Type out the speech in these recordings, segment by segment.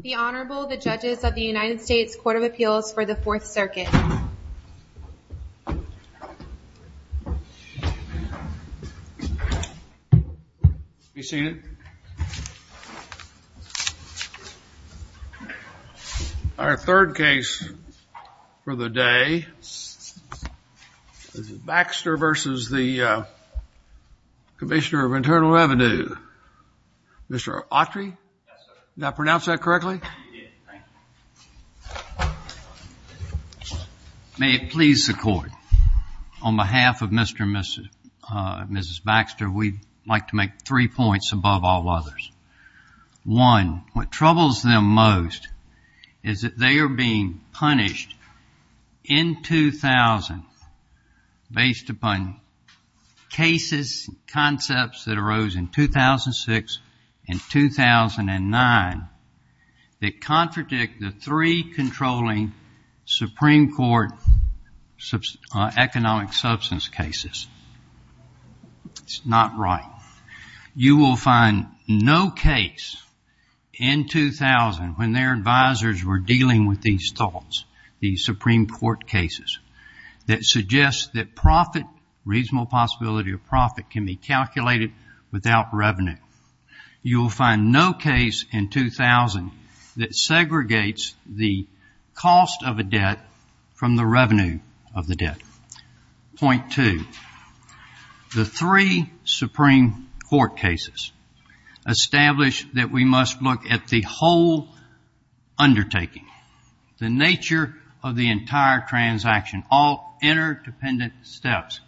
The Honorable, the Judges of the United States Court of Appeals for the Fourth Circuit. Have you seen it? Our third case for the day is Baxter v. Commissioner of Internal Revenue. Mr. Autry? Yes, sir. Did I pronounce that correctly? You did. May it please the Court. On behalf of Mr. and Mrs. Baxter, we'd like to make three points above all others. One, what troubles them most is that they are being punished in 2000 based upon cases and concepts that arose in 2006 and 2009 that contradict the three controlling Supreme Court economic substance cases. It's not right. You will find no case in 2000 when their advisors were dealing with these thoughts, these Supreme Court cases that suggest that profit, reasonable possibility of profit, can be calculated without revenue. You will find no case in 2000 that segregates the cost of a debt from the revenue of the debt. Point two, the three Supreme Court cases establish that we must look at the whole undertaking, the nature of the entire transaction, all interdependent steps.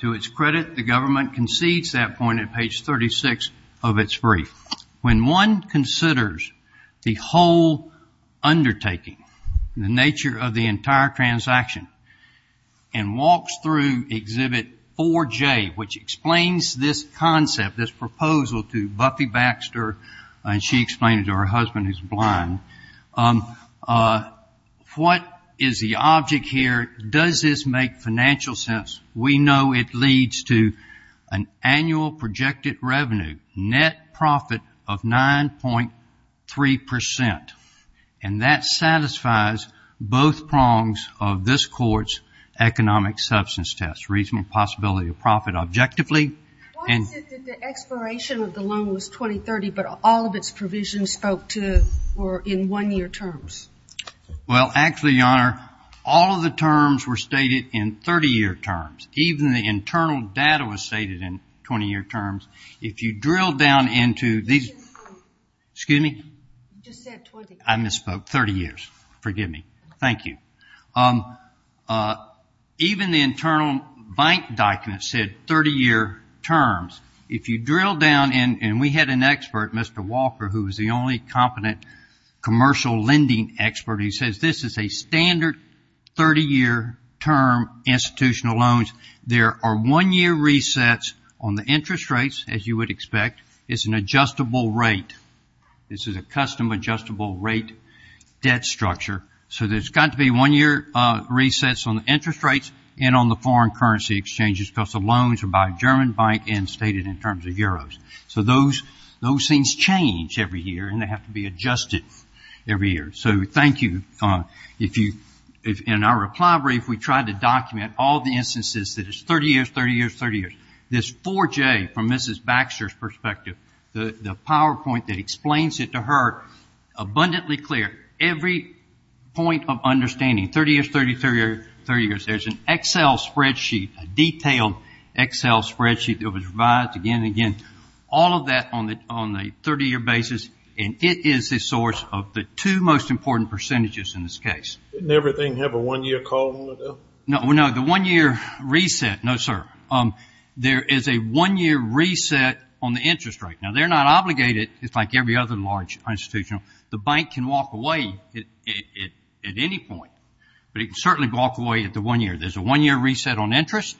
To its credit, the government concedes that point at page 36 of its brief. When one considers the whole undertaking, the nature of the entire transaction, and walks through Exhibit 4J, which explains this concept, this proposal to Buffy Baxter, and she explained it to her husband who's blind, what is the object here? Does this make financial sense? We know it leads to an annual projected revenue, net profit of 9.3%, and that satisfies both prongs of this Court's economic substance test, reasonable possibility of profit objectively. Why is it that the expiration of the loan was 2030, but all of its provisions spoke to or in one-year terms? Well, actually, Your Honor, all of the terms were stated in 30-year terms. Even the internal data was stated in 20-year terms. If you drill down into these – You misspoke. Excuse me? You just said 20 years. I misspoke. 30 years. Forgive me. Thank you. Even the internal bank document said 30-year terms. If you drill down, and we had an expert, Mr. Walker, who was the only competent commercial lending expert. He says this is a standard 30-year term institutional loan. There are one-year resets on the interest rates, as you would expect. It's an adjustable rate. This is a custom adjustable rate debt structure. So there's got to be one-year resets on the interest rates and on the foreign currency exchanges because the loans are by German bank and stated in terms of euros. So those things change every year, and they have to be adjusted every year. So thank you. In our reply brief, we tried to document all the instances that it's 30 years, 30 years, 30 years. This 4J from Mrs. Baxter's perspective, the PowerPoint that explains it to her abundantly clear, there's an Excel spreadsheet, a detailed Excel spreadsheet that was revised again and again. All of that on a 30-year basis, and it is the source of the two most important percentages in this case. Didn't everything have a one-year call in the middle? No, the one-year reset. No, sir. There is a one-year reset on the interest rate. Now, they're not obligated. It's like every other large institution. The bank can walk away at any point, but it can certainly walk away at the one year. There's a one-year reset on interest,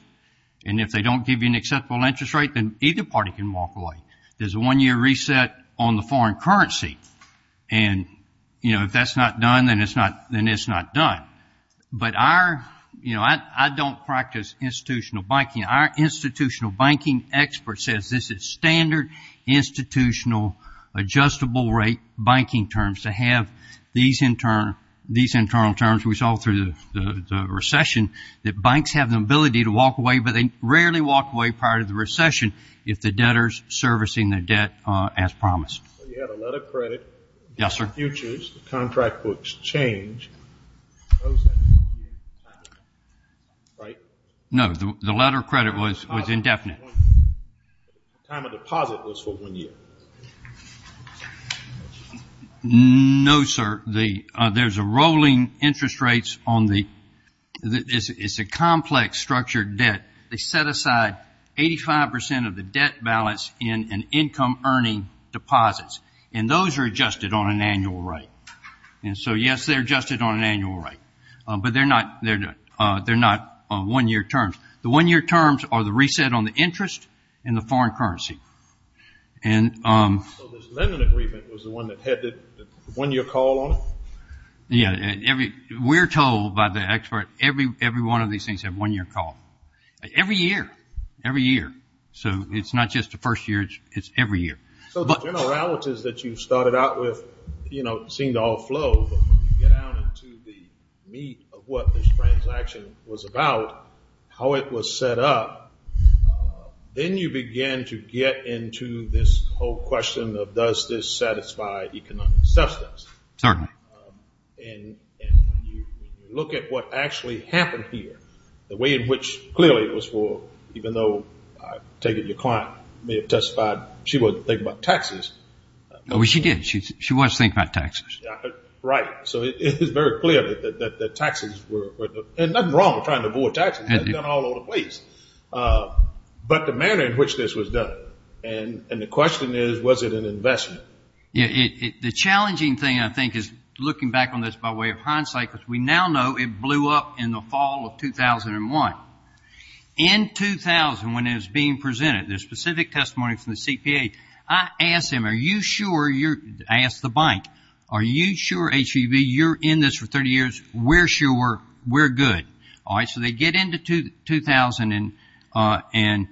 and if they don't give you an acceptable interest rate, then either party can walk away. There's a one-year reset on the foreign currency, and if that's not done, then it's not done. But I don't practice institutional banking. Our institutional banking expert says this is standard institutional adjustable rate banking terms to have these internal terms. We saw through the recession that banks have the ability to walk away, but they rarely walk away prior to the recession if the debtor is servicing the debt as promised. You have a letter of credit. Yes, sir. The futures, the contract books change. Right? No, the letter of credit was indefinite. The time of deposit was for one year. No, sir. There's a rolling interest rates on the – it's a complex structured debt. They set aside 85% of the debt balance in an income earning deposits, and those are adjusted on an annual rate. And so, yes, they're adjusted on an annual rate, but they're not one-year terms. The one-year terms are the reset on the interest and the foreign currency. So this lending agreement was the one that had the one-year call on it? Yeah. We're told by the expert every one of these things have one-year call, every year, every year. So it's not just the first year. It's every year. So the generalities that you started out with, you know, seem to all flow, but when you get out into the meat of what this transaction was about, how it was set up, then you begin to get into this whole question of does this satisfy economic substance. Certainly. And when you look at what actually happened here, the way in which clearly it was for, even though I take it your client may have testified she wasn't thinking about taxes. Well, she did. She was thinking about taxes. Right. So it is very clear that taxes were, and nothing wrong with trying to avoid taxes. That's done all over the place. But the manner in which this was done, and the question is, was it an investment? The challenging thing, I think, is looking back on this by way of hindsight, because we now know it blew up in the fall of 2001. In 2000, when it was being presented, the specific testimony from the CPA, I asked him, are you sure you're, I asked the bank, are you sure, HEV, you're in this for 30 years? We're sure. We're good. All right. So they get into 2001,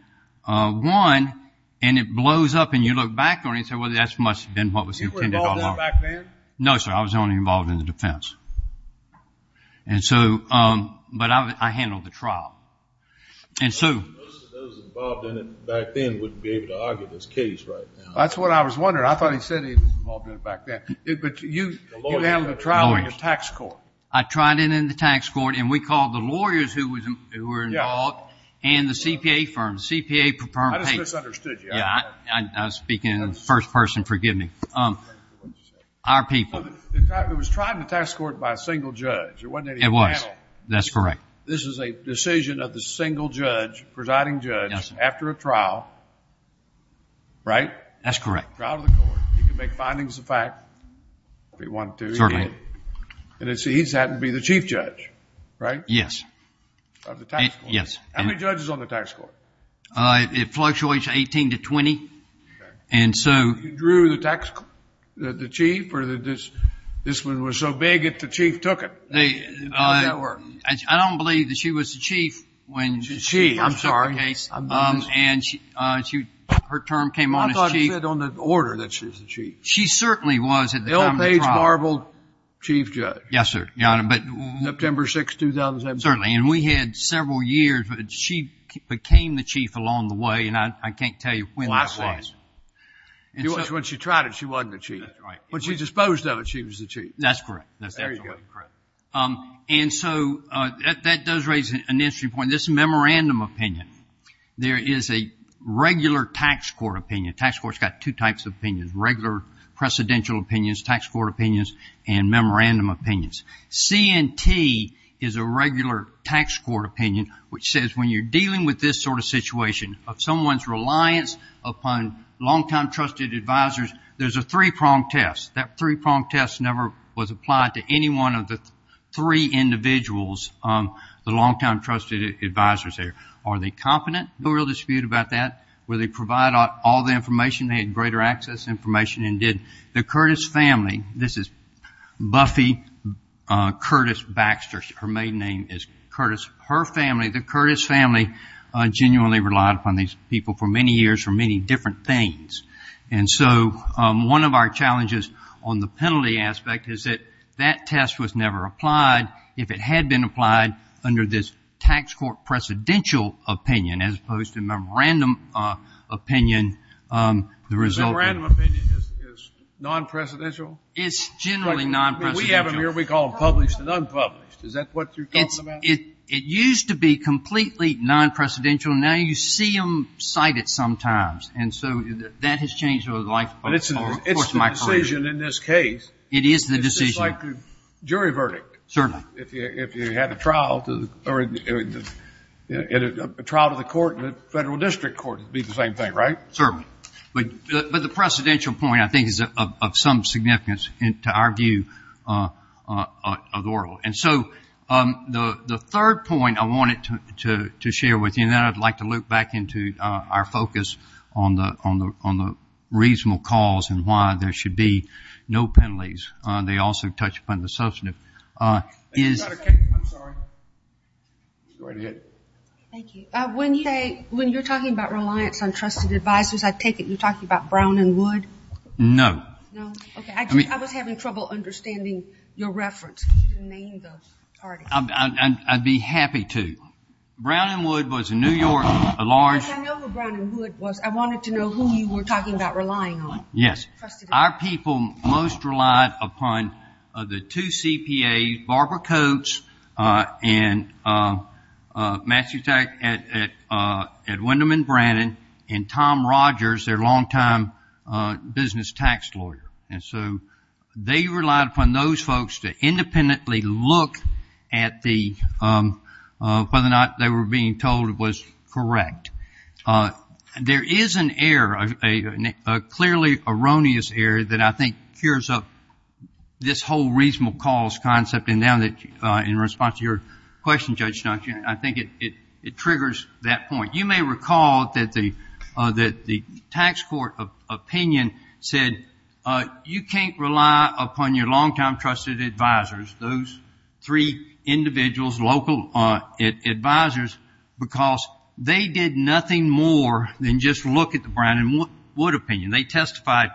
and it blows up, and you look back on it and say, well, that must have been what was intended all along. You were involved in it back then? No, sir. I was only involved in the defense. And so, but I handled the trial. And so. Most of those involved in it back then wouldn't be able to argue this case right now. That's what I was wondering. I thought he said he was involved in it back then. But you handled the trial in your tax court. I tried it in the tax court, and we called the lawyers who were involved and the CPA firm, the CPA firm paid. I just misunderstood you. I was speaking in the first person. Forgive me. Our people. It was tried in the tax court by a single judge. It wasn't any panel. It was. That's correct. This is a decision of the single judge, presiding judge. Yes, sir. After a trial, right? That's correct. Trial to the court. He could make findings of fact if he wanted to. Certainly. And he's happened to be the chief judge, right? Yes. Of the tax court. Yes. How many judges on the tax court? It fluctuates 18 to 20. Okay. You drew the chief, or this one was so big that the chief took it? How did that work? I don't believe that she was the chief. Chief. I'm sorry. Her term came on as chief. I thought it said on the order that she was the chief. She certainly was at the time of the trial. L. Paige Marble, chief judge. Yes, sir. September 6, 2007. Certainly. And we had several years, but she became the chief along the way, and I can't tell you when that was. When she tried it, she wasn't the chief. When she disposed of it, she was the chief. That's correct. There you go. And so that does raise an interesting point. This memorandum opinion, there is a regular tax court opinion. Tax court's got two types of opinions, regular precedential opinions, tax court opinions, and memorandum opinions. C&T is a regular tax court opinion, which says when you're dealing with this sort of situation of someone's reliance upon long-time trusted advisors, there's a three-prong test. That three-prong test never was applied to any one of the three individuals, the long-time trusted advisors there. Are they competent? No real dispute about that. Will they provide all the information? They had greater access information and did. The Curtis family, this is Buffy Curtis Baxter. Her maiden name is Curtis. Her family, the Curtis family, genuinely relied upon these people for many years for many different things. And so one of our challenges on the penalty aspect is that that test was never applied. If it had been applied under this tax court precedential opinion as opposed to memorandum opinion, the result would be non-precedential? It's generally non-precedential. We have them here. We call them published and unpublished. Is that what you're talking about? It used to be completely non-precedential. Now you see them cited sometimes. And so that has changed over the life course of my career. But it's the decision in this case. It is the decision. It's just like a jury verdict. Certainly. If you had a trial to the court and a federal district court, it would be the same thing, right? Certainly. But the precedential point, I think, is of some significance to our view of the world. And so the third point I wanted to share with you, and then I'd like to loop back into our focus on the reasonable cause and why there should be no penalties. They also touch upon the substantive. Thank you, Dr. King. I'm sorry. Go ahead. Thank you. When you're talking about reliance on trusted advisors, I take it you're talking about Brown and Wood? No. No? Okay. I was having trouble understanding your reference. You didn't name the artist. I'd be happy to. Brown and Wood was a New York, a large. I know who Brown and Wood was. I wanted to know who you were talking about relying on. Yes. Our people most relied upon the two CPAs, Barbara Coates and Matthew Atwin and Brandon, and Tom Rogers, their longtime business tax lawyer. And so they relied upon those folks to independently look at whether or not they were being told it was correct. There is an error, a clearly erroneous error that I think cures up this whole reasonable cause concept, and now that in response to your question, Judge Dungeon, I think it triggers that point. You may recall that the tax court opinion said you can't rely upon your longtime trusted advisors, those three individuals, local advisors, because they did nothing more than just look at the Brown and Wood opinion. They testified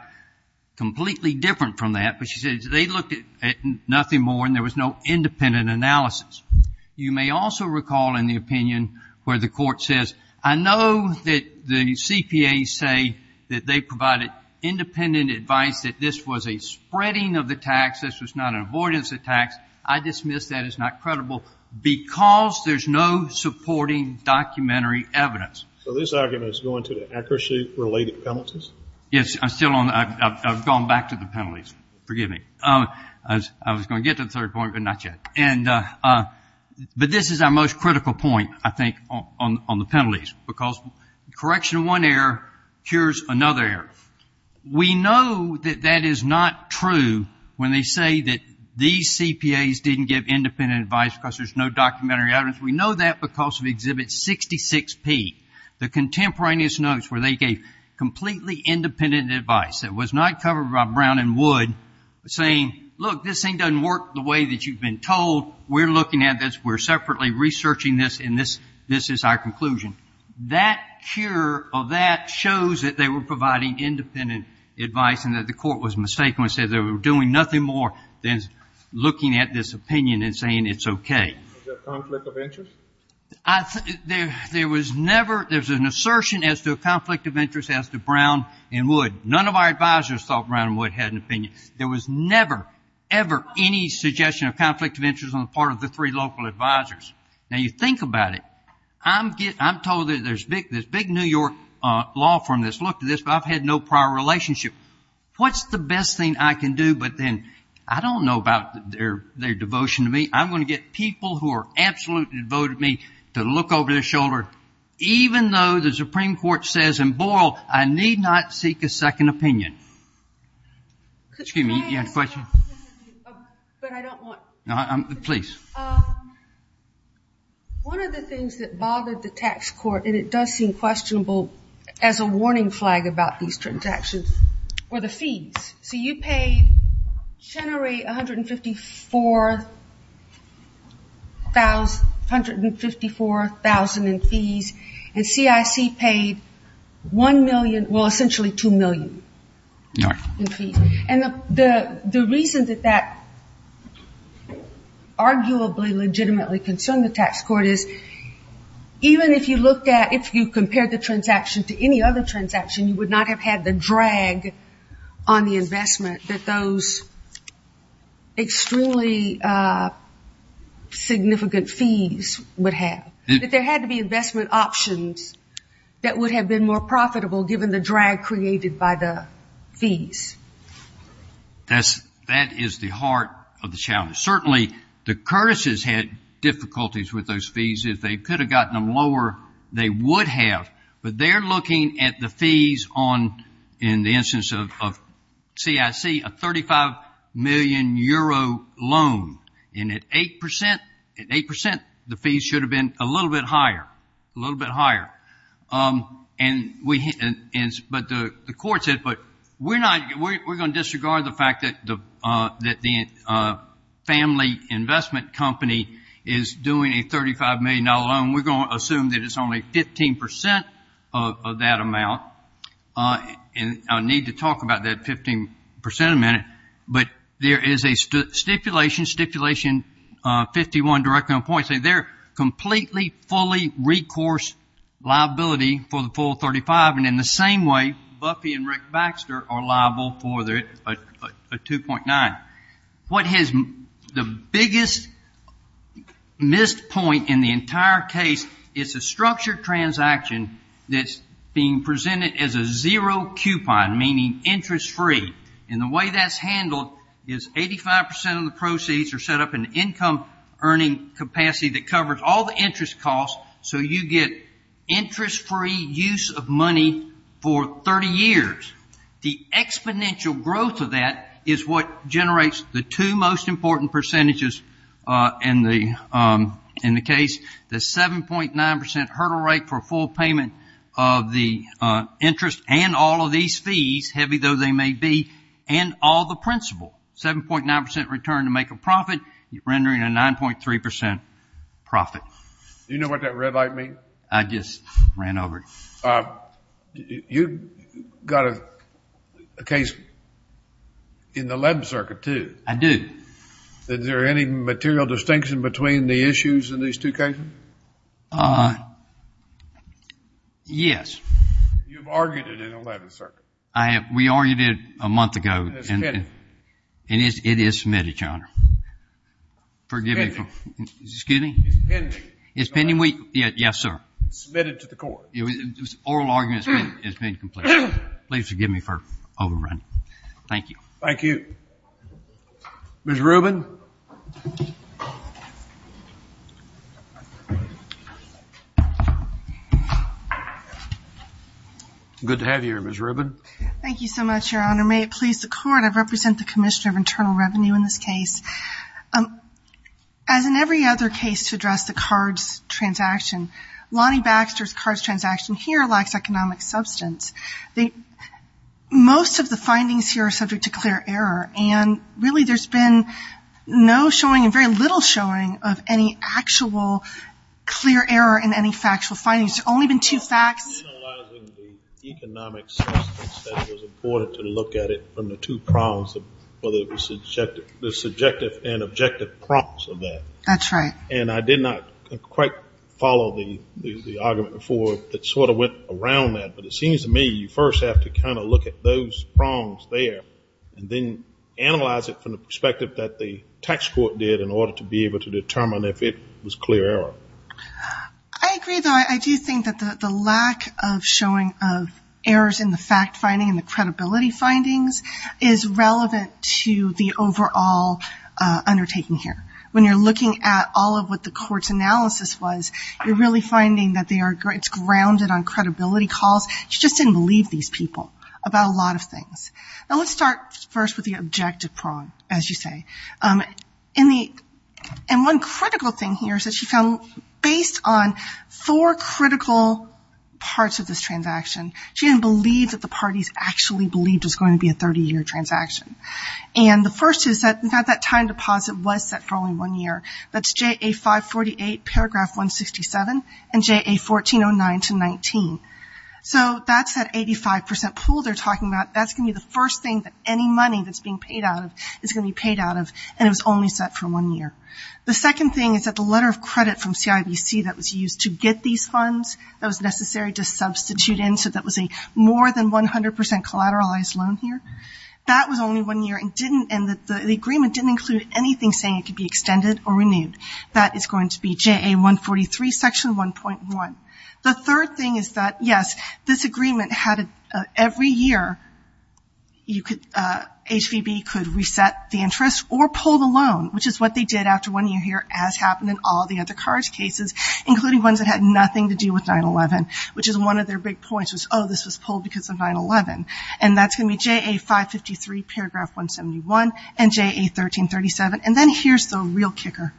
completely different from that, but she said they looked at nothing more and there was no independent analysis. You may also recall in the opinion where the court says, I know that the CPAs say that they provided independent advice that this was a spreading of the tax, this was not an avoidance of tax. I dismiss that as not credible because there's no supporting documentary evidence. So this argument is going to the accuracy-related penalties? Yes, I'm still on that. I've gone back to the penalties. Forgive me. I was going to get to the third point, but not yet. But this is our most critical point, I think, on the penalties, because correction of one error cures another error. We know that that is not true when they say that these CPAs didn't give independent advice because there's no documentary evidence. We know that because of Exhibit 66P, the contemporaneous notes where they gave completely independent advice that was not covered by Brown and Wood saying, look, this thing doesn't work the way that you've been told, we're looking at this, we're separately researching this, and this is our conclusion. That cure of that shows that they were providing independent advice and that the court was mistaken when it said they were doing nothing more than looking at this opinion and saying it's okay. Was there a conflict of interest? There was never an assertion as to a conflict of interest as to Brown and Wood. None of our advisors thought Brown and Wood had an opinion. There was never, ever any suggestion of conflict of interest on the part of the three local advisors. Now, you think about it. I'm told there's this big New York law firm that's looked at this, but I've had no prior relationship. What's the best thing I can do? But then I don't know about their devotion to me. I'm going to get people who are absolutely devoted to me to look over their shoulder, even though the Supreme Court says in Boyle, I need not seek a second opinion. Excuse me, you had a question? But I don't want to. Please. One of the things that bothered the tax court, and it does seem questionable as a warning flag about these transactions, were the fees. So you paid Chenery $154,000 in fees, and CIC paid $1 million, well, essentially $2 million in fees. And the reason that that arguably legitimately concerned the tax court is, even if you compared the transaction to any other transaction, you would not have had the drag on the investment that those extremely significant fees would have. But there had to be investment options that would have been more profitable given the drag created by the fees. That is the heart of the challenge. Certainly the Curtis's had difficulties with those fees. If they could have gotten them lower, they would have. But they're looking at the fees on, in the instance of CIC, a 35-million-euro loan. And at 8%, the fees should have been a little bit higher, a little bit higher. But the court said, but we're going to disregard the fact that the family investment company is doing a $35 million loan. We're going to assume that it's only 15% of that amount. And I'll need to talk about that 15% in a minute. But there is a stipulation, Stipulation 51 directly on point, saying they're completely fully recourse liability for the full 35. And in the same way, Buffy and Rick Baxter are liable for a 2.9. What is the biggest missed point in the entire case is a structured transaction that's being presented as a zero coupon, meaning interest-free. And the way that's handled is 85% of the proceeds are set up in income earning capacity that covers all the interest costs, so you get interest-free use of money for 30 years. The exponential growth of that is what generates the two most important percentages in the case, the 7.9% hurdle rate for full payment of the interest and all of these fees, heavy though they may be, and all the principal. 7.9% return to make a profit, rendering a 9.3% profit. Do you know what that red light means? I just ran over it. You've got a case in the 11th Circuit, too. I do. Is there any material distinction between the issues in these two cases? Yes. You've argued it in the 11th Circuit. We argued it a month ago. It's pending. And it is submitted, Your Honor. Pending. Excuse me? It's pending. It's pending? Yes, sir. Submitted to the court. Oral argument has been completed. Please forgive me for overrunning. Thank you. Thank you. Ms. Rubin? Good to have you here, Ms. Rubin. Thank you so much, Your Honor. May it please the Court, I represent the Commissioner of Internal Revenue in this case. As in every other case to address the cards transaction, Lonnie Baxter's cards transaction here lacks economic substance. Most of the findings here are subject to clear error. And really there's been no showing and very little showing of any actual clear error in any factual findings. There's only been two facts. I was analyzing the economic substance that was reported to look at it from the two prongs, whether it was the subjective and objective prongs of that. That's right. And I did not quite follow the argument before that sort of went around that. But it seems to me you first have to kind of look at those prongs there and then analyze it from the perspective that the tax court did in order to be able to determine if it was clear error. I agree, though. I do think that the lack of showing of errors in the fact finding and the credibility findings is relevant to the overall undertaking here. When you're looking at all of what the court's analysis was, you're really finding that it's grounded on credibility calls. She just didn't believe these people about a lot of things. Now let's start first with the objective prong, as you say. And one critical thing here is that she found based on four critical parts of this transaction, she didn't believe that the parties actually believed it was going to be a 30-year transaction. And the first is that that time deposit was set for only one year. That's JA 548 paragraph 167 and JA 1409 to 19. So that's that 85% pool they're talking about. That's going to be the first thing that any money that's being paid out of is going to be paid out of, and it was only set for one year. The second thing is that the letter of credit from CIBC that was used to get these funds, that was necessary to substitute in so that was a more than 100% collateralized loan here, that was only one year and the agreement didn't include anything saying it could be extended or renewed. That is going to be JA 143 section 1.1. The third thing is that, yes, this agreement had every year HVB could reset the interest or pull the loan, which is what they did after one year here as happened in all the other CARS cases, including ones that had nothing to do with 9-11, which is one of their big points was, oh, this was pulled because of 9-11. And that's going to be JA 553 paragraph 171 and JA 1337. And then here's the real kicker.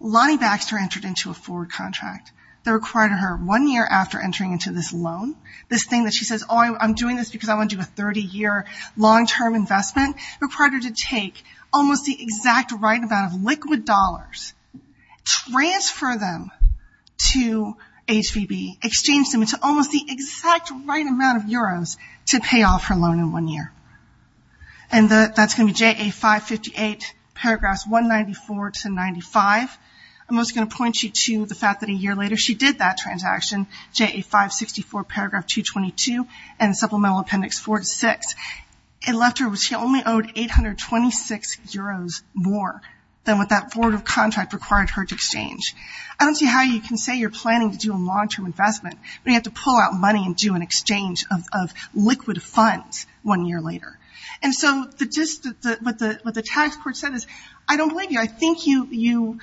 Lonnie Baxter entered into a forward contract that required her one year after entering into this loan, this thing that she says, oh, I'm doing this because I want to do a 30-year long-term investment, required her to take almost the exact right amount of liquid dollars, transfer them to HVB, exchange them into almost the exact right amount of euros to pay off her loan in one year. And that's going to be JA 558 paragraphs 194 to 95. I'm also going to point you to the fact that a year later she did that transaction, JA 564 paragraph 222 and supplemental appendix 46. She only owed 826 euros more than what that forward contract required her to exchange. I don't see how you can say you're planning to do a long-term investment, but you have to pull out money and do an exchange of liquid funds one year later. And so what the tax court said is, I don't believe you. I think you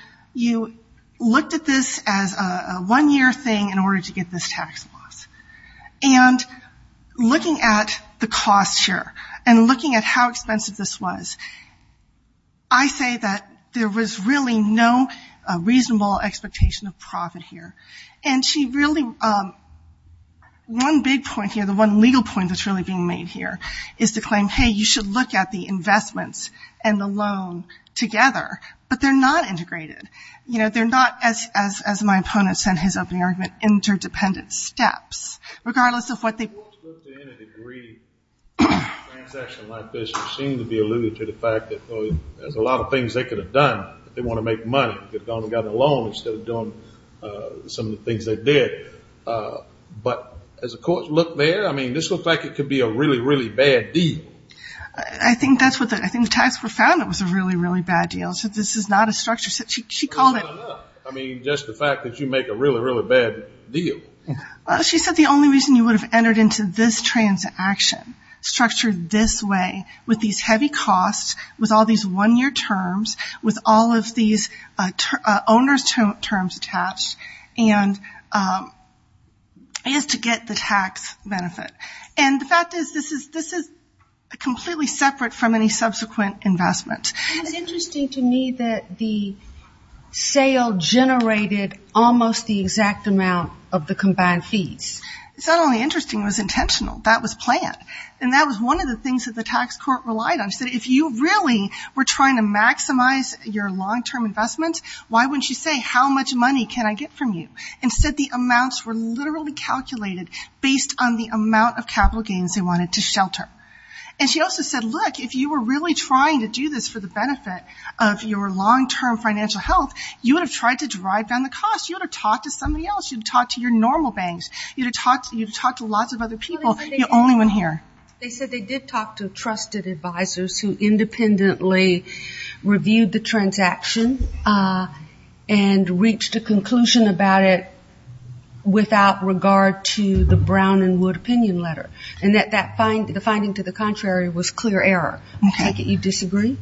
looked at this as a one-year thing in order to get this tax loss. And looking at the cost here and looking at how expensive this was, I say that there was really no reasonable expectation of profit here. And she really – one big point here, the one legal point that's really being made here is to claim, hey, you should look at the investments and the loan together, but they're not integrated. You know, they're not, as my opponent said in his opening argument, interdependent steps. Regardless of what they – In a degree, in a transaction like this, you seem to be alluding to the fact that there's a lot of things they could have done. They want to make money. They could have gone and gotten a loan instead of doing some of the things they did. But as the courts look there, I mean, this looks like it could be a really, really bad deal. I think that's what the – I think the tax court found it was a really, really bad deal. It said this is not a structure. She called it – Well, not enough. I mean, just the fact that you make a really, really bad deal. She said the only reason you would have entered into this transaction, structured this way with these heavy costs, with all these one-year terms, with all of these owner's terms attached, is to get the tax benefit. And the fact is this is completely separate from any subsequent investment. It's interesting to me that the sale generated almost the exact amount of the combined fees. It's not only interesting. It was intentional. That was planned. And that was one of the things that the tax court relied on. She said if you really were trying to maximize your long-term investments, why wouldn't you say how much money can I get from you? Instead, the amounts were literally calculated based on the amount of capital gains they wanted to shelter. And she also said, look, if you were really trying to do this for the benefit of your long-term financial health, you would have tried to drive down the cost. You would have talked to somebody else. You would have talked to your normal banks. You would have talked to lots of other people. You're the only one here. They said they did talk to trusted advisors who independently reviewed the transaction and reached a conclusion about it without regard to the Brown and Wood opinion letter. And that the finding to the contrary was clear error. I take it you disagree?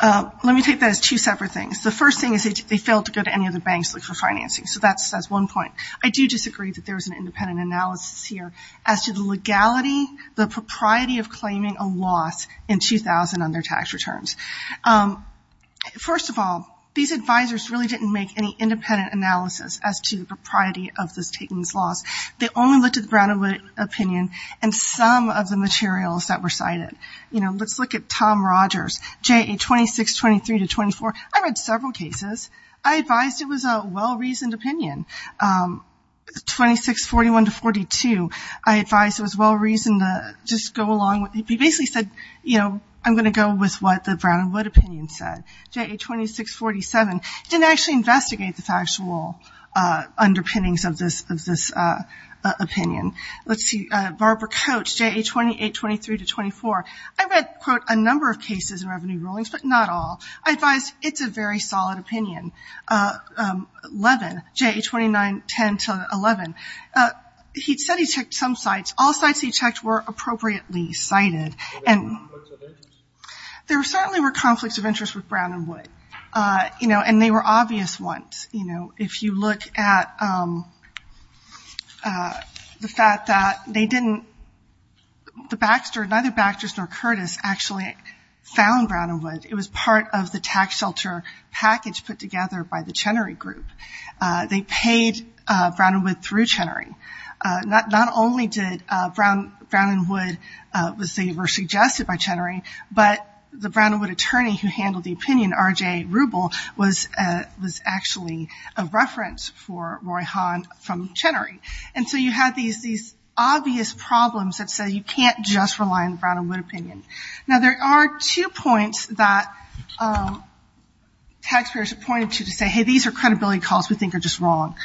Let me take that as two separate things. The first thing is they failed to go to any other banks to look for financing. So that's one point. I do disagree that there was an independent analysis here as to the legality, the propriety of claiming a loss in 2000 on their tax returns. First of all, these advisors really didn't make any independent analysis as to the propriety of this taking this loss. They only looked at the Brown and Wood opinion and some of the materials that were cited. Let's look at Tom Rogers, JA 2623-24. I read several cases. I advised it was a well-reasoned opinion. 2641-42, I advised it was well-reasoned to just go along with it. He basically said, you know, I'm going to go with what the Brown and Wood opinion said. JA 2647, didn't actually investigate the factual underpinnings of this opinion. Let's see, Barbara Coates, JA 2823-24. I read, quote, a number of cases in revenue rulings, but not all. I advised it's a very solid opinion. 11, JA 2910-11. He said he checked some sites. All sites he checked were appropriately cited. There certainly were conflicts of interest with Brown and Wood. You know, and they were obvious ones. You know, if you look at the fact that they didn't, the Baxter, neither Baxter nor Curtis actually found Brown and Wood. It was part of the tax shelter package put together by the Chenery Group. They paid Brown and Wood through Chenery. Not only did Brown and Wood, they were suggested by Chenery, but the Brown and Wood attorney who handled the opinion, R.J. Rubel, was actually a reference for Roy Hahn from Chenery. And so you had these obvious problems that said you can't just rely on the Brown and Wood opinion. Now, there are two points that taxpayers have pointed to to say, hey, these are credibility calls we think are just wrong.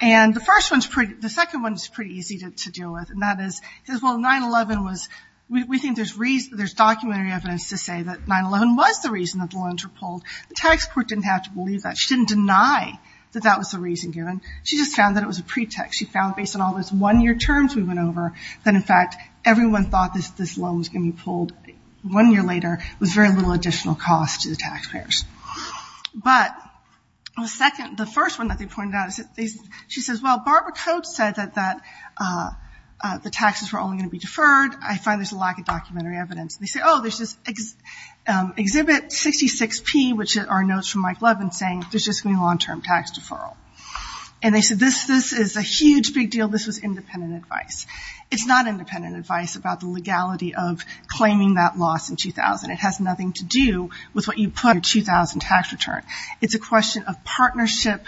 And the first one is pretty, the second one is pretty easy to deal with, and that is, well, 9-11 was, we think there's reason, there's documentary evidence to say that 9-11 was the reason that the loans were pulled. The tax court didn't have to believe that. She didn't deny that that was the reason given. She just found that it was a pretext. She found based on all those one-year terms we went over that, in fact, everyone thought this loan was going to be pulled one year later with very little additional cost to the taxpayers. But the second, the first one that they pointed out, she says, well, Barbara Coates said that the taxes were only going to be deferred. I find there's a lack of documentary evidence. And they say, oh, there's this Exhibit 66P, which are notes from Mike Levin, saying there's just going to be long-term tax deferral. And they said this is a huge, big deal. This was independent advice. It's not independent advice about the legality of claiming that loss in 2000. It has nothing to do with what you put in your 2000 tax return. It's a question of partnership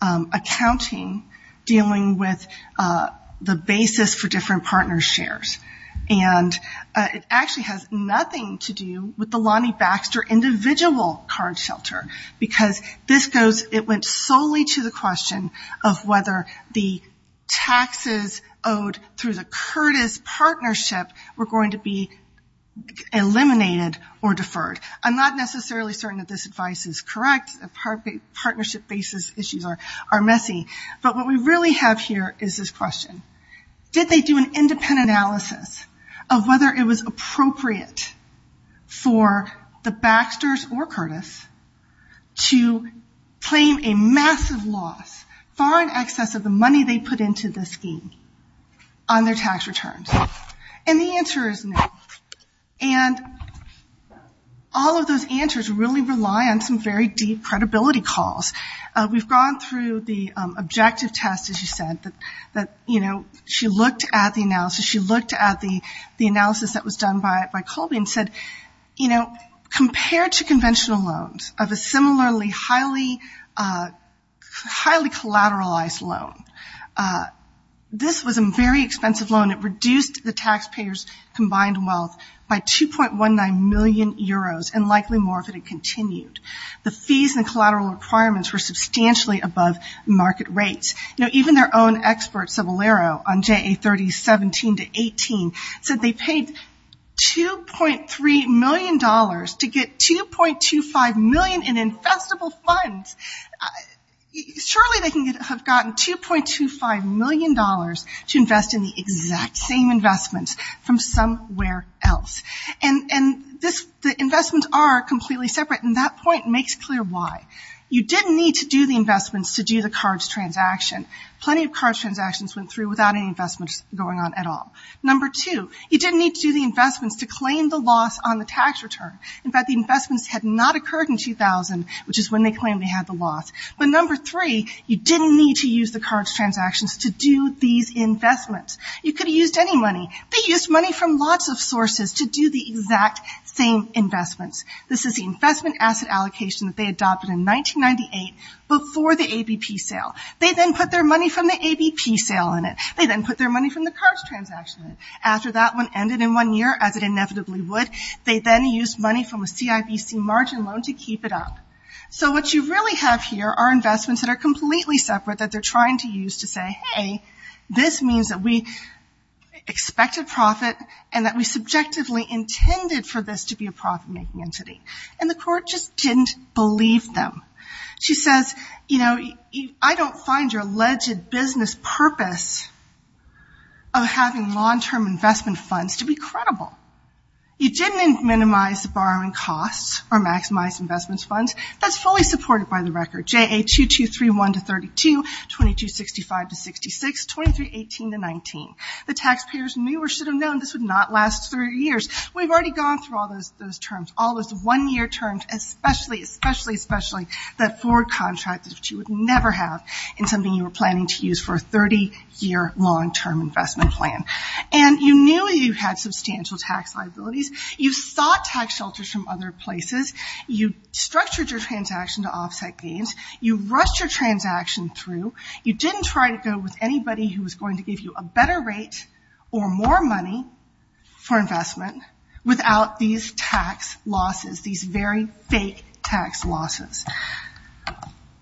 accounting dealing with the basis for different partner shares. And it actually has nothing to do with the Lonnie Baxter individual card shelter because this goes, it went solely to the question of whether the taxes owed through the Curtis partnership were going to be eliminated or deferred. I'm not necessarily certain that this advice is correct. Partnership basis issues are messy. But what we really have here is this question. Did they do an independent analysis of whether it was appropriate for the Baxter's or Curtis to claim a massive loss, far in excess of the money they put into the scheme on their tax returns? And the answer is no. And all of those answers really rely on some very deep credibility calls. We've gone through the objective test, as you said, that, you know, she looked at the analysis. She looked at the analysis that was done by Colby and said, you know, compared to conventional loans of a similarly highly collateralized loan, this was a very expensive loan. It reduced the taxpayer's combined wealth by 2.19 million euros and likely more if it had continued. The fees and collateral requirements were substantially above market rates. You know, even their own experts of Allero on JA3017-18 said they paid $2.3 million to get 2.25 million in investable funds. Surely they could have gotten $2.25 million to invest in the exact same investments from somewhere else. And the investments are completely separate, and that point makes clear why. You didn't need to do the investments to do the CARDS transaction. Plenty of CARDS transactions went through without any investments going on at all. Number two, you didn't need to do the investments to claim the loss on the tax return. In fact, the investments had not occurred in 2000, which is when they claimed they had the loss. But number three, you didn't need to use the CARDS transactions to do these investments. You could have used any money. They used money from lots of sources to do the exact same investments. This is the investment asset allocation that they adopted in 1998 before the ABP sale. They then put their money from the ABP sale in it. They then put their money from the CARDS transaction in it. After that one ended in one year, as it inevitably would, they then used money from a CIBC margin loan to keep it up. So what you really have here are investments that are completely separate that they're trying to use to say, hey, this means that we expect a profit and that we subjectively intended for this to be a profit-making entity. And the court just didn't believe them. She says, you know, I don't find your alleged business purpose of having long-term investment funds to be credible. You didn't minimize the borrowing costs or maximize investment funds. That's fully supported by the record, JA 2231 to 32, 2265 to 66, 2318 to 19. The taxpayers knew or should have known this would not last 30 years. We've already gone through all those terms, all those one-year terms, especially, especially, especially, that forward contract that you would never have in something you were planning to use for a 30-year long-term investment plan. And you knew you had substantial tax liabilities. You sought tax shelters from other places. You structured your transaction to offset gains. You rushed your transaction through. You didn't try to go with anybody who was going to give you a better rate or more money for investment without these tax losses, these very fake tax losses.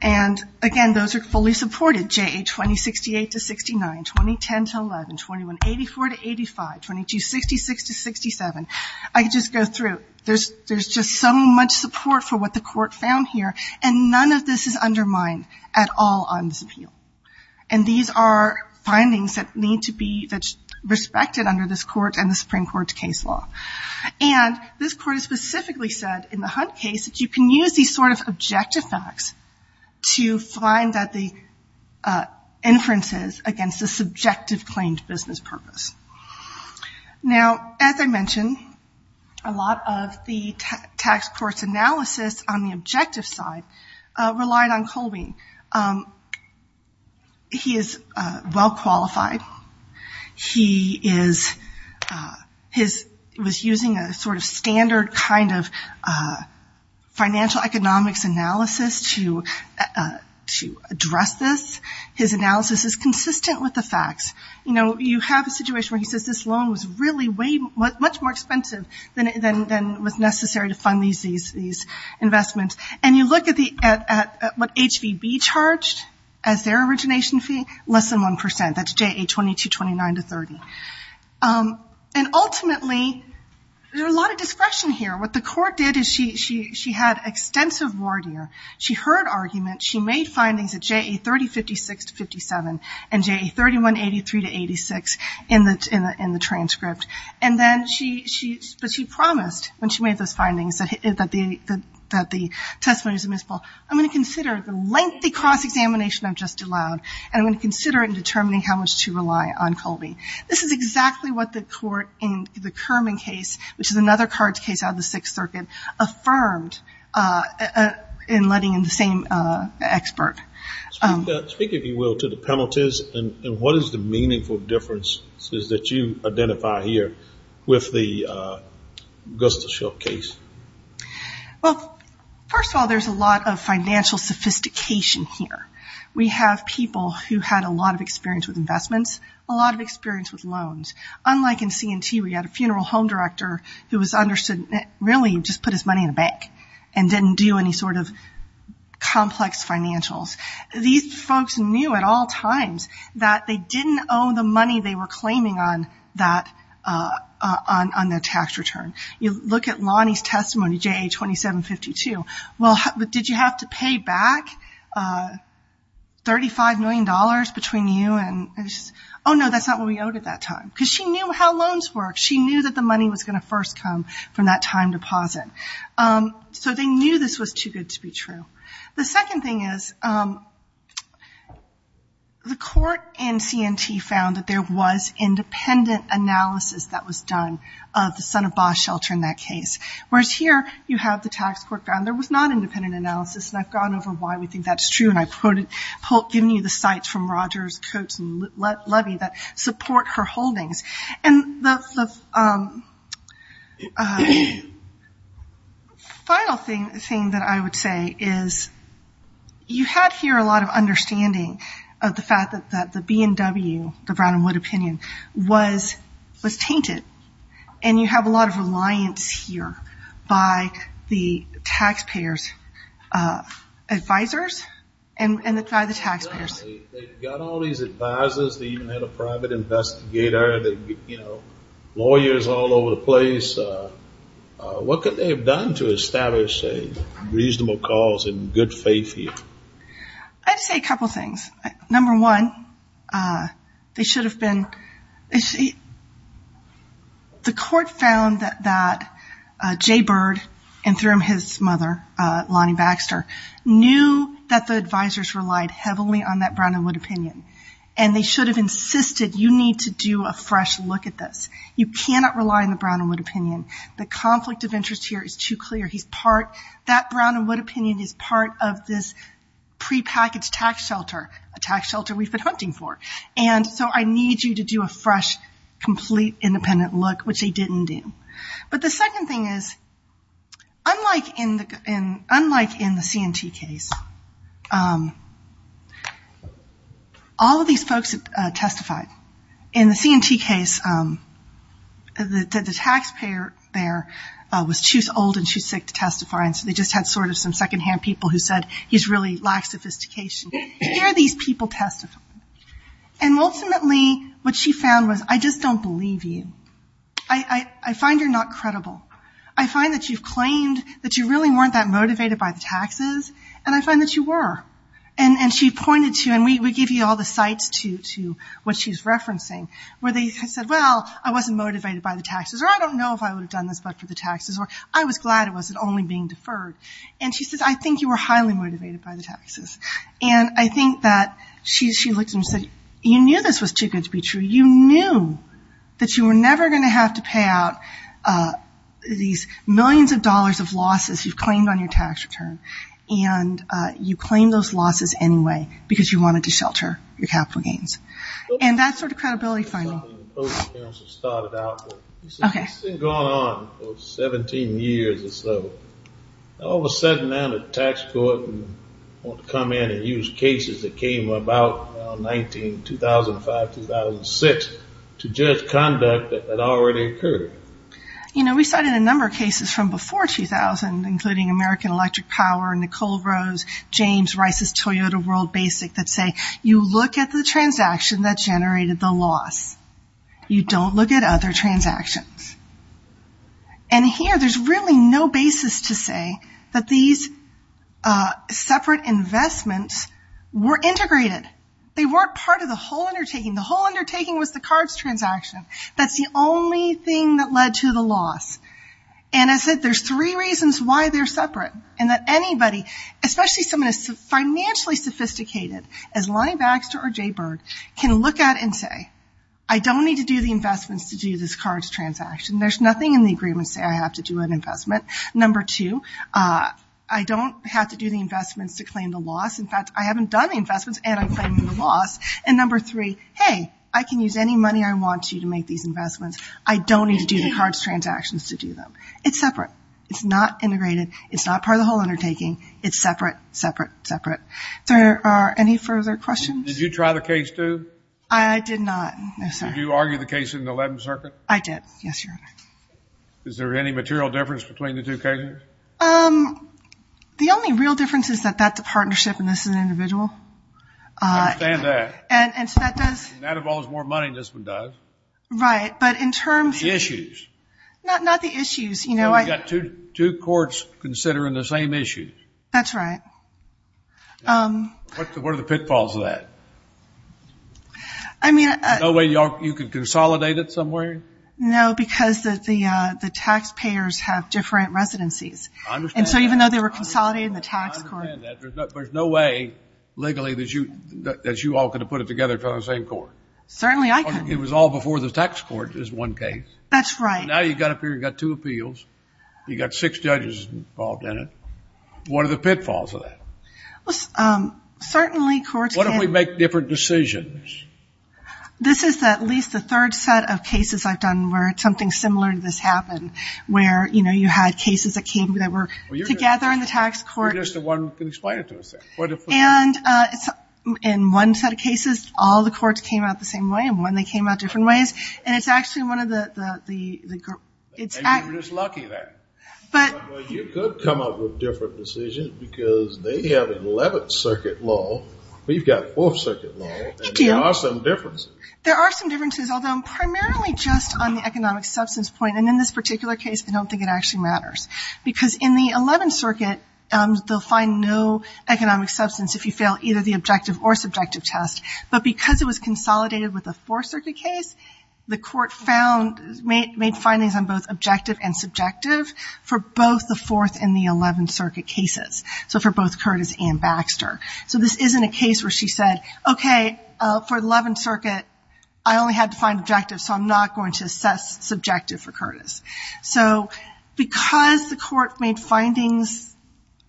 And, again, those are fully supported, JA 2068 to 69, 2010 to 11, 2184 to 85, 2266 to 67. I could just go through. There's just so much support for what the court found here, and none of this is undermined at all on this appeal. And these are findings that need to be respected under this court and the Supreme Court's case law. And this court specifically said in the Hunt case that you can use these sort of objective facts to find that the inferences against the subjective claimed business purpose. Now, as I mentioned, a lot of the tax court's analysis on the objective side relied on Colby. He is well qualified. He was using a sort of standard kind of financial economics analysis to address this. His analysis is consistent with the facts. You know, you have a situation where he says this loan was really much more expensive than was necessary to fund these investments. And you look at what HVB charged as their origination fee, less than 1 percent. That's JA 20 to 29 to 30. And, ultimately, there's a lot of discretion here. What the court did is she had extensive word here. She heard arguments. She made findings at JA 30, 56 to 57, and JA 31, 83 to 86 in the transcript. And then she promised when she made those findings that the testimony was admissible. I'm going to consider the lengthy cross-examination I've just allowed, and I'm going to consider it in determining how much to rely on Colby. This is exactly what the court in the Kerman case, which is another cards case out of the Sixth Circuit, affirmed in letting in the same expert. Speak, if you will, to the penalties, and what is the meaningful differences that you identify here with the Gustafsson case? Well, first of all, there's a lot of financial sophistication here. We have people who had a lot of experience with investments, a lot of experience with loans. Unlike in C&T where you had a funeral home director who was understood, really, just put his money in a bank and didn't do any sort of complex financials. These folks knew at all times that they didn't owe the money they were claiming on that tax return. You look at Lonnie's testimony, JA 27, 52. Well, did you have to pay back $35 million between you and? Oh, no, that's not what we owed at that time. Because she knew how loans worked. She knew that the money was going to first come from that time deposit. So they knew this was too good to be true. The second thing is the court in C&T found that there was independent analysis that was done of the son-of-boss shelter in that case. Whereas here you have the tax court found there was not independent analysis, and I've gone over why we think that's true, and I've given you the sites from Rogers, Coates, and Levy that support her holdings. And the final thing that I would say is you had here a lot of understanding of the fact that the B&W, the Brown and Wood opinion, was tainted. And you have a lot of reliance here by the taxpayers' advisers and by the taxpayers. They've got all these advisers. They even had a private investigator. They've got lawyers all over the place. What could they have done to establish a reasonable cause and good faith here? I'd say a couple things. Number one, the court found that Jay Bird, and through him his mother, Lonnie Baxter, knew that the advisers relied heavily on that Brown and Wood opinion, and they should have insisted you need to do a fresh look at this. You cannot rely on the Brown and Wood opinion. The conflict of interest here is too clear. That Brown and Wood opinion is part of this prepackaged tax shelter, a tax shelter we've been hunting for. And so I need you to do a fresh, complete, independent look, which they didn't do. But the second thing is, unlike in the C&T case, all of these folks testified. In the C&T case, the taxpayer there was too old and too sick to testify, and so they just had sort of some secondhand people who said, he really lacks sophistication. Here are these people testifying. And ultimately what she found was, I just don't believe you. I find you're not credible. I find that you've claimed that you really weren't that motivated by the taxes, and I find that you were. And she pointed to, and we give you all the sites to what she's referencing, where they said, well, I wasn't motivated by the taxes, or I don't know if I would have done this but for the taxes, or I was glad it wasn't only being deferred. And she says, I think you were highly motivated by the taxes. And I think that she looked and said, you knew this was too good to be true. You knew that you were never going to have to pay out these millions of dollars of losses you've claimed on your tax return, and you claimed those losses anyway because you wanted to shelter your capital gains. And that's sort of credibility finding. Okay. It's been going on for 17 years or so. All of a sudden now the tax court want to come in and use cases that came about around 19, 2005, 2006, to judge conduct that already occurred. You know, we cited a number of cases from before 2000, including American Electric Power, Nicole Rose, James Rice's Toyota World Basic, that say you look at the transaction that generated the loss. You don't look at other transactions. And here there's really no basis to say that these separate investments were integrated. They weren't part of the whole undertaking. The whole undertaking was the cards transaction. That's the only thing that led to the loss. And I said there's three reasons why they're separate, and that anybody, especially someone as financially sophisticated as Lonnie Baxter or Jay Berg, can look at it and say, I don't need to do the investments to do this cards transaction. There's nothing in the agreement saying I have to do an investment. Number two, I don't have to do the investments to claim the loss. In fact, I haven't done the investments, and I'm claiming the loss. And number three, hey, I can use any money I want to to make these investments. I don't need to do the cards transactions to do them. It's separate. It's not integrated. It's not part of the whole undertaking. It's separate, separate, separate. Are there any further questions? Did you try the case, too? I did not, no, sir. Did you argue the case in the 11th Circuit? I did, yes, Your Honor. Is there any material difference between the two cases? The only real difference is that that's a partnership and this is an individual. I understand that. And so that does – And that involves more money than this one does. Right. But in terms of – The issues. Not the issues. You've got two courts considering the same issues. That's right. What are the pitfalls of that? I mean – No way you could consolidate it somewhere? No, because the taxpayers have different residencies. I understand that. And so even though they were consolidating the tax – I understand that. There's no way legally that you all could have put it together from the same court. Certainly I couldn't. It was all before the tax court is one case. That's right. Now you've got up here, you've got two appeals, you've got six judges involved in it. What are the pitfalls of that? Well, certainly courts can – What if we make different decisions? This is at least the third set of cases I've done where something similar to this happened, where, you know, you had cases that came that were together in the tax court. You're just the one who can explain it to us then. And in one set of cases, all the courts came out the same way, and when they came out different ways. And it's actually one of the – Maybe we're just lucky then. Well, you could come up with different decisions because they have 11th Circuit law. We've got 4th Circuit law. They do. And there are some differences. There are some differences, although primarily just on the economic substance point. And in this particular case, I don't think it actually matters. Because in the 11th Circuit, they'll find no economic substance if you fail either the objective or subjective test. But because it was consolidated with the 4th Circuit case, the court found – made findings on both objective and subjective for both the 4th and the 11th Circuit cases, so for both Curtis and Baxter. So this isn't a case where she said, okay, for the 11th Circuit, I only had to find objective, so I'm not going to assess subjective for Curtis. So because the court made findings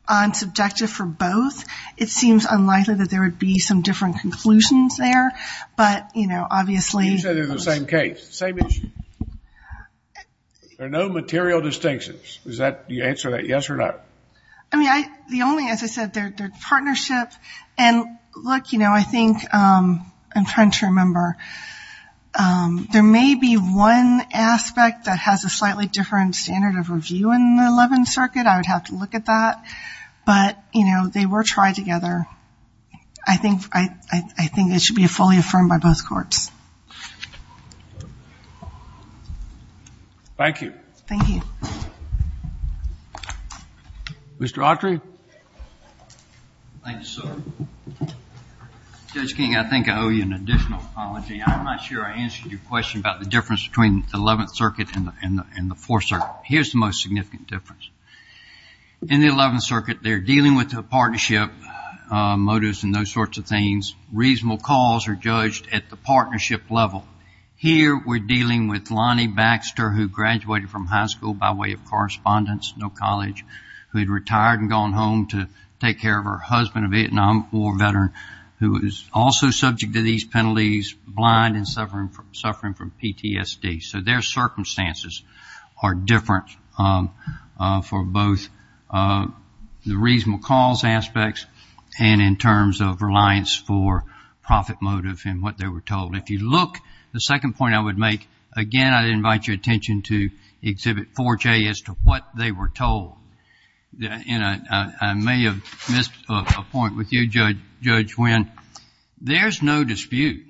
on subjective for both, it seems unlikely that there would be some different conclusions there. But, you know, obviously – You said they're the same case. Same issue. There are no material distinctions. Is that – do you answer that yes or no? I mean, the only – as I said, their partnership – and look, you know, I think – I'm trying to remember. There may be one aspect that has a slightly different standard of review in the 11th Circuit. I would have to look at that. But, you know, they were tried together. I think it should be fully affirmed by both courts. Thank you. Thank you. Mr. Autry. Thank you, sir. Judge King, I think I owe you an additional apology. I'm not sure I answered your question about the difference between the 11th Circuit and the 4th Circuit. Here's the most significant difference. In the 11th Circuit, they're dealing with the partnership motives and those sorts of things. Reasonable cause are judged at the partnership level. Here we're dealing with Lonnie Baxter, who graduated from high school by way of correspondence, no college, who had retired and gone home to take care of her husband, a Vietnam War veteran, who is also subject to these penalties, blind and suffering from PTSD. So their circumstances are different for both the reasonable cause aspects and in terms of reliance for profit motive and what they were told. If you look, the second point I would make, again, I'd invite your attention to Exhibit 4J as to what they were told. I may have missed a point with you, Judge Wynn. There's no dispute.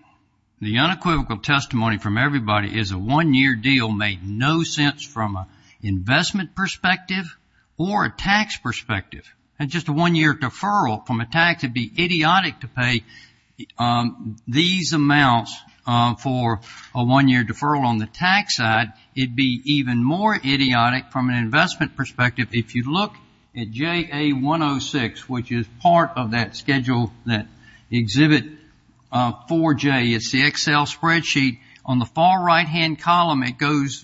The unequivocal testimony from everybody is a one-year deal made no sense from an investment perspective or a tax perspective. Just a one-year deferral from a tax would be idiotic to pay these amounts for a one-year deferral on the tax side. It would be even more idiotic from an investment perspective. If you look at JA106, which is part of that schedule, that Exhibit 4J, it's the Excel spreadsheet. On the far right-hand column, it's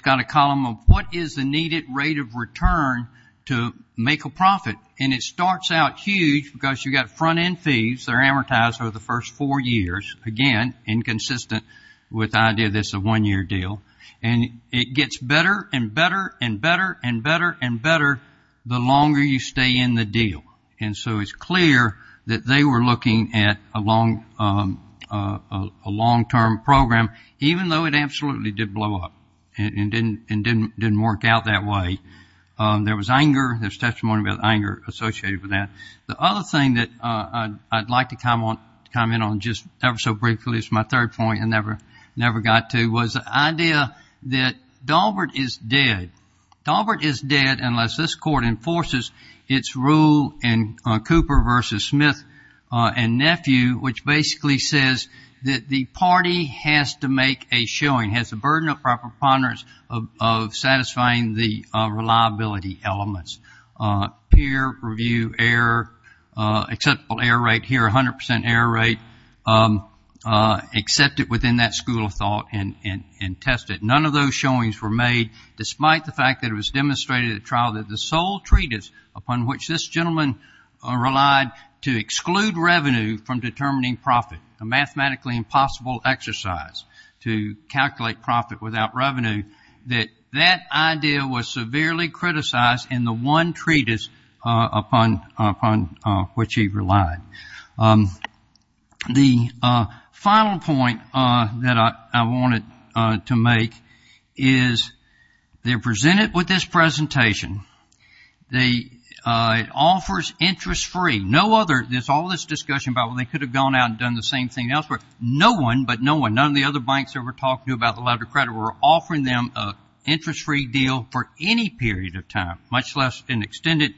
got a column of what is the needed rate of return to make a profit. And it starts out huge because you've got front-end fees. They're amortized over the first four years, again, inconsistent with the idea that it's a one-year deal. And it gets better and better and better and better and better the longer you stay in the deal. And so it's clear that they were looking at a long-term program, even though it absolutely did blow up and didn't work out that way. There was anger. There's testimony about anger associated with that. The other thing that I'd like to comment on just ever so briefly, it's my third point, I never got to, was the idea that Daubert is dead. Daubert is dead unless this court enforces its rule in Cooper v. Smith and Nephew, which basically says that the party has to make a showing, has the burden of proper ponderance of satisfying the reliability elements. Peer review error, acceptable error rate here, 100% error rate, accepted within that school of thought and tested. None of those showings were made, despite the fact that it was demonstrated at trial that the sole treatise upon which this gentleman relied to exclude revenue from determining profit, a mathematically impossible exercise to calculate profit without revenue, that that idea was severely criticized in the one treatise upon which he relied. The final point that I wanted to make is they're presented with this presentation. It offers interest-free. There's all this discussion about, well, they could have gone out and done the same thing elsewhere. No one, but no one, none of the other banks ever talked to about the letter of credit, were offering them an interest-free deal for any period of time, much less an extended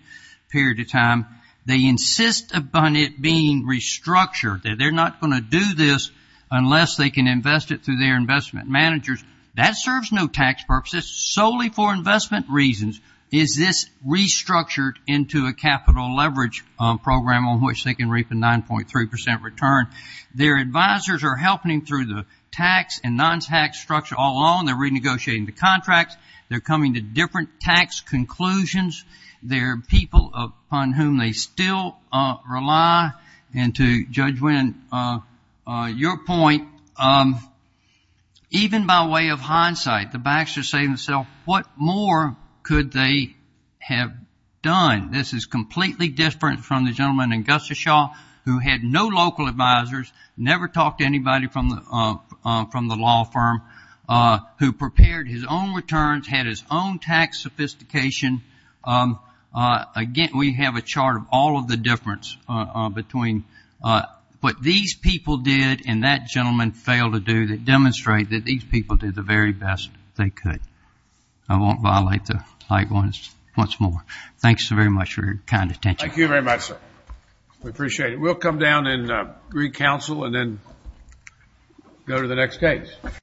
period of time. They insist upon it being restructured, that they're not going to do this unless they can invest it through their investment managers. That serves no tax purposes. Solely for investment reasons is this restructured into a capital leverage program on which they can reap a 9.3% return. Their advisors are helping them through the tax and non-tax structure all along. They're renegotiating the contracts. They're coming to different tax conclusions. They're people upon whom they still rely. And to Judge Winn, your point, even by way of hindsight, the banks are saying to themselves, what more could they have done? This is completely different from the gentleman in Gustafshaw who had no local advisors, never talked to anybody from the law firm, who prepared his own returns, had his own tax sophistication. Again, we have a chart of all of the difference between what these people did and that gentleman failed to do that demonstrate that these people did the very best they could. I won't violate the right ones once more. Thanks very much for your kind attention. Thank you very much, sir. We appreciate it. We'll come down and re-counsel and then go to the next case.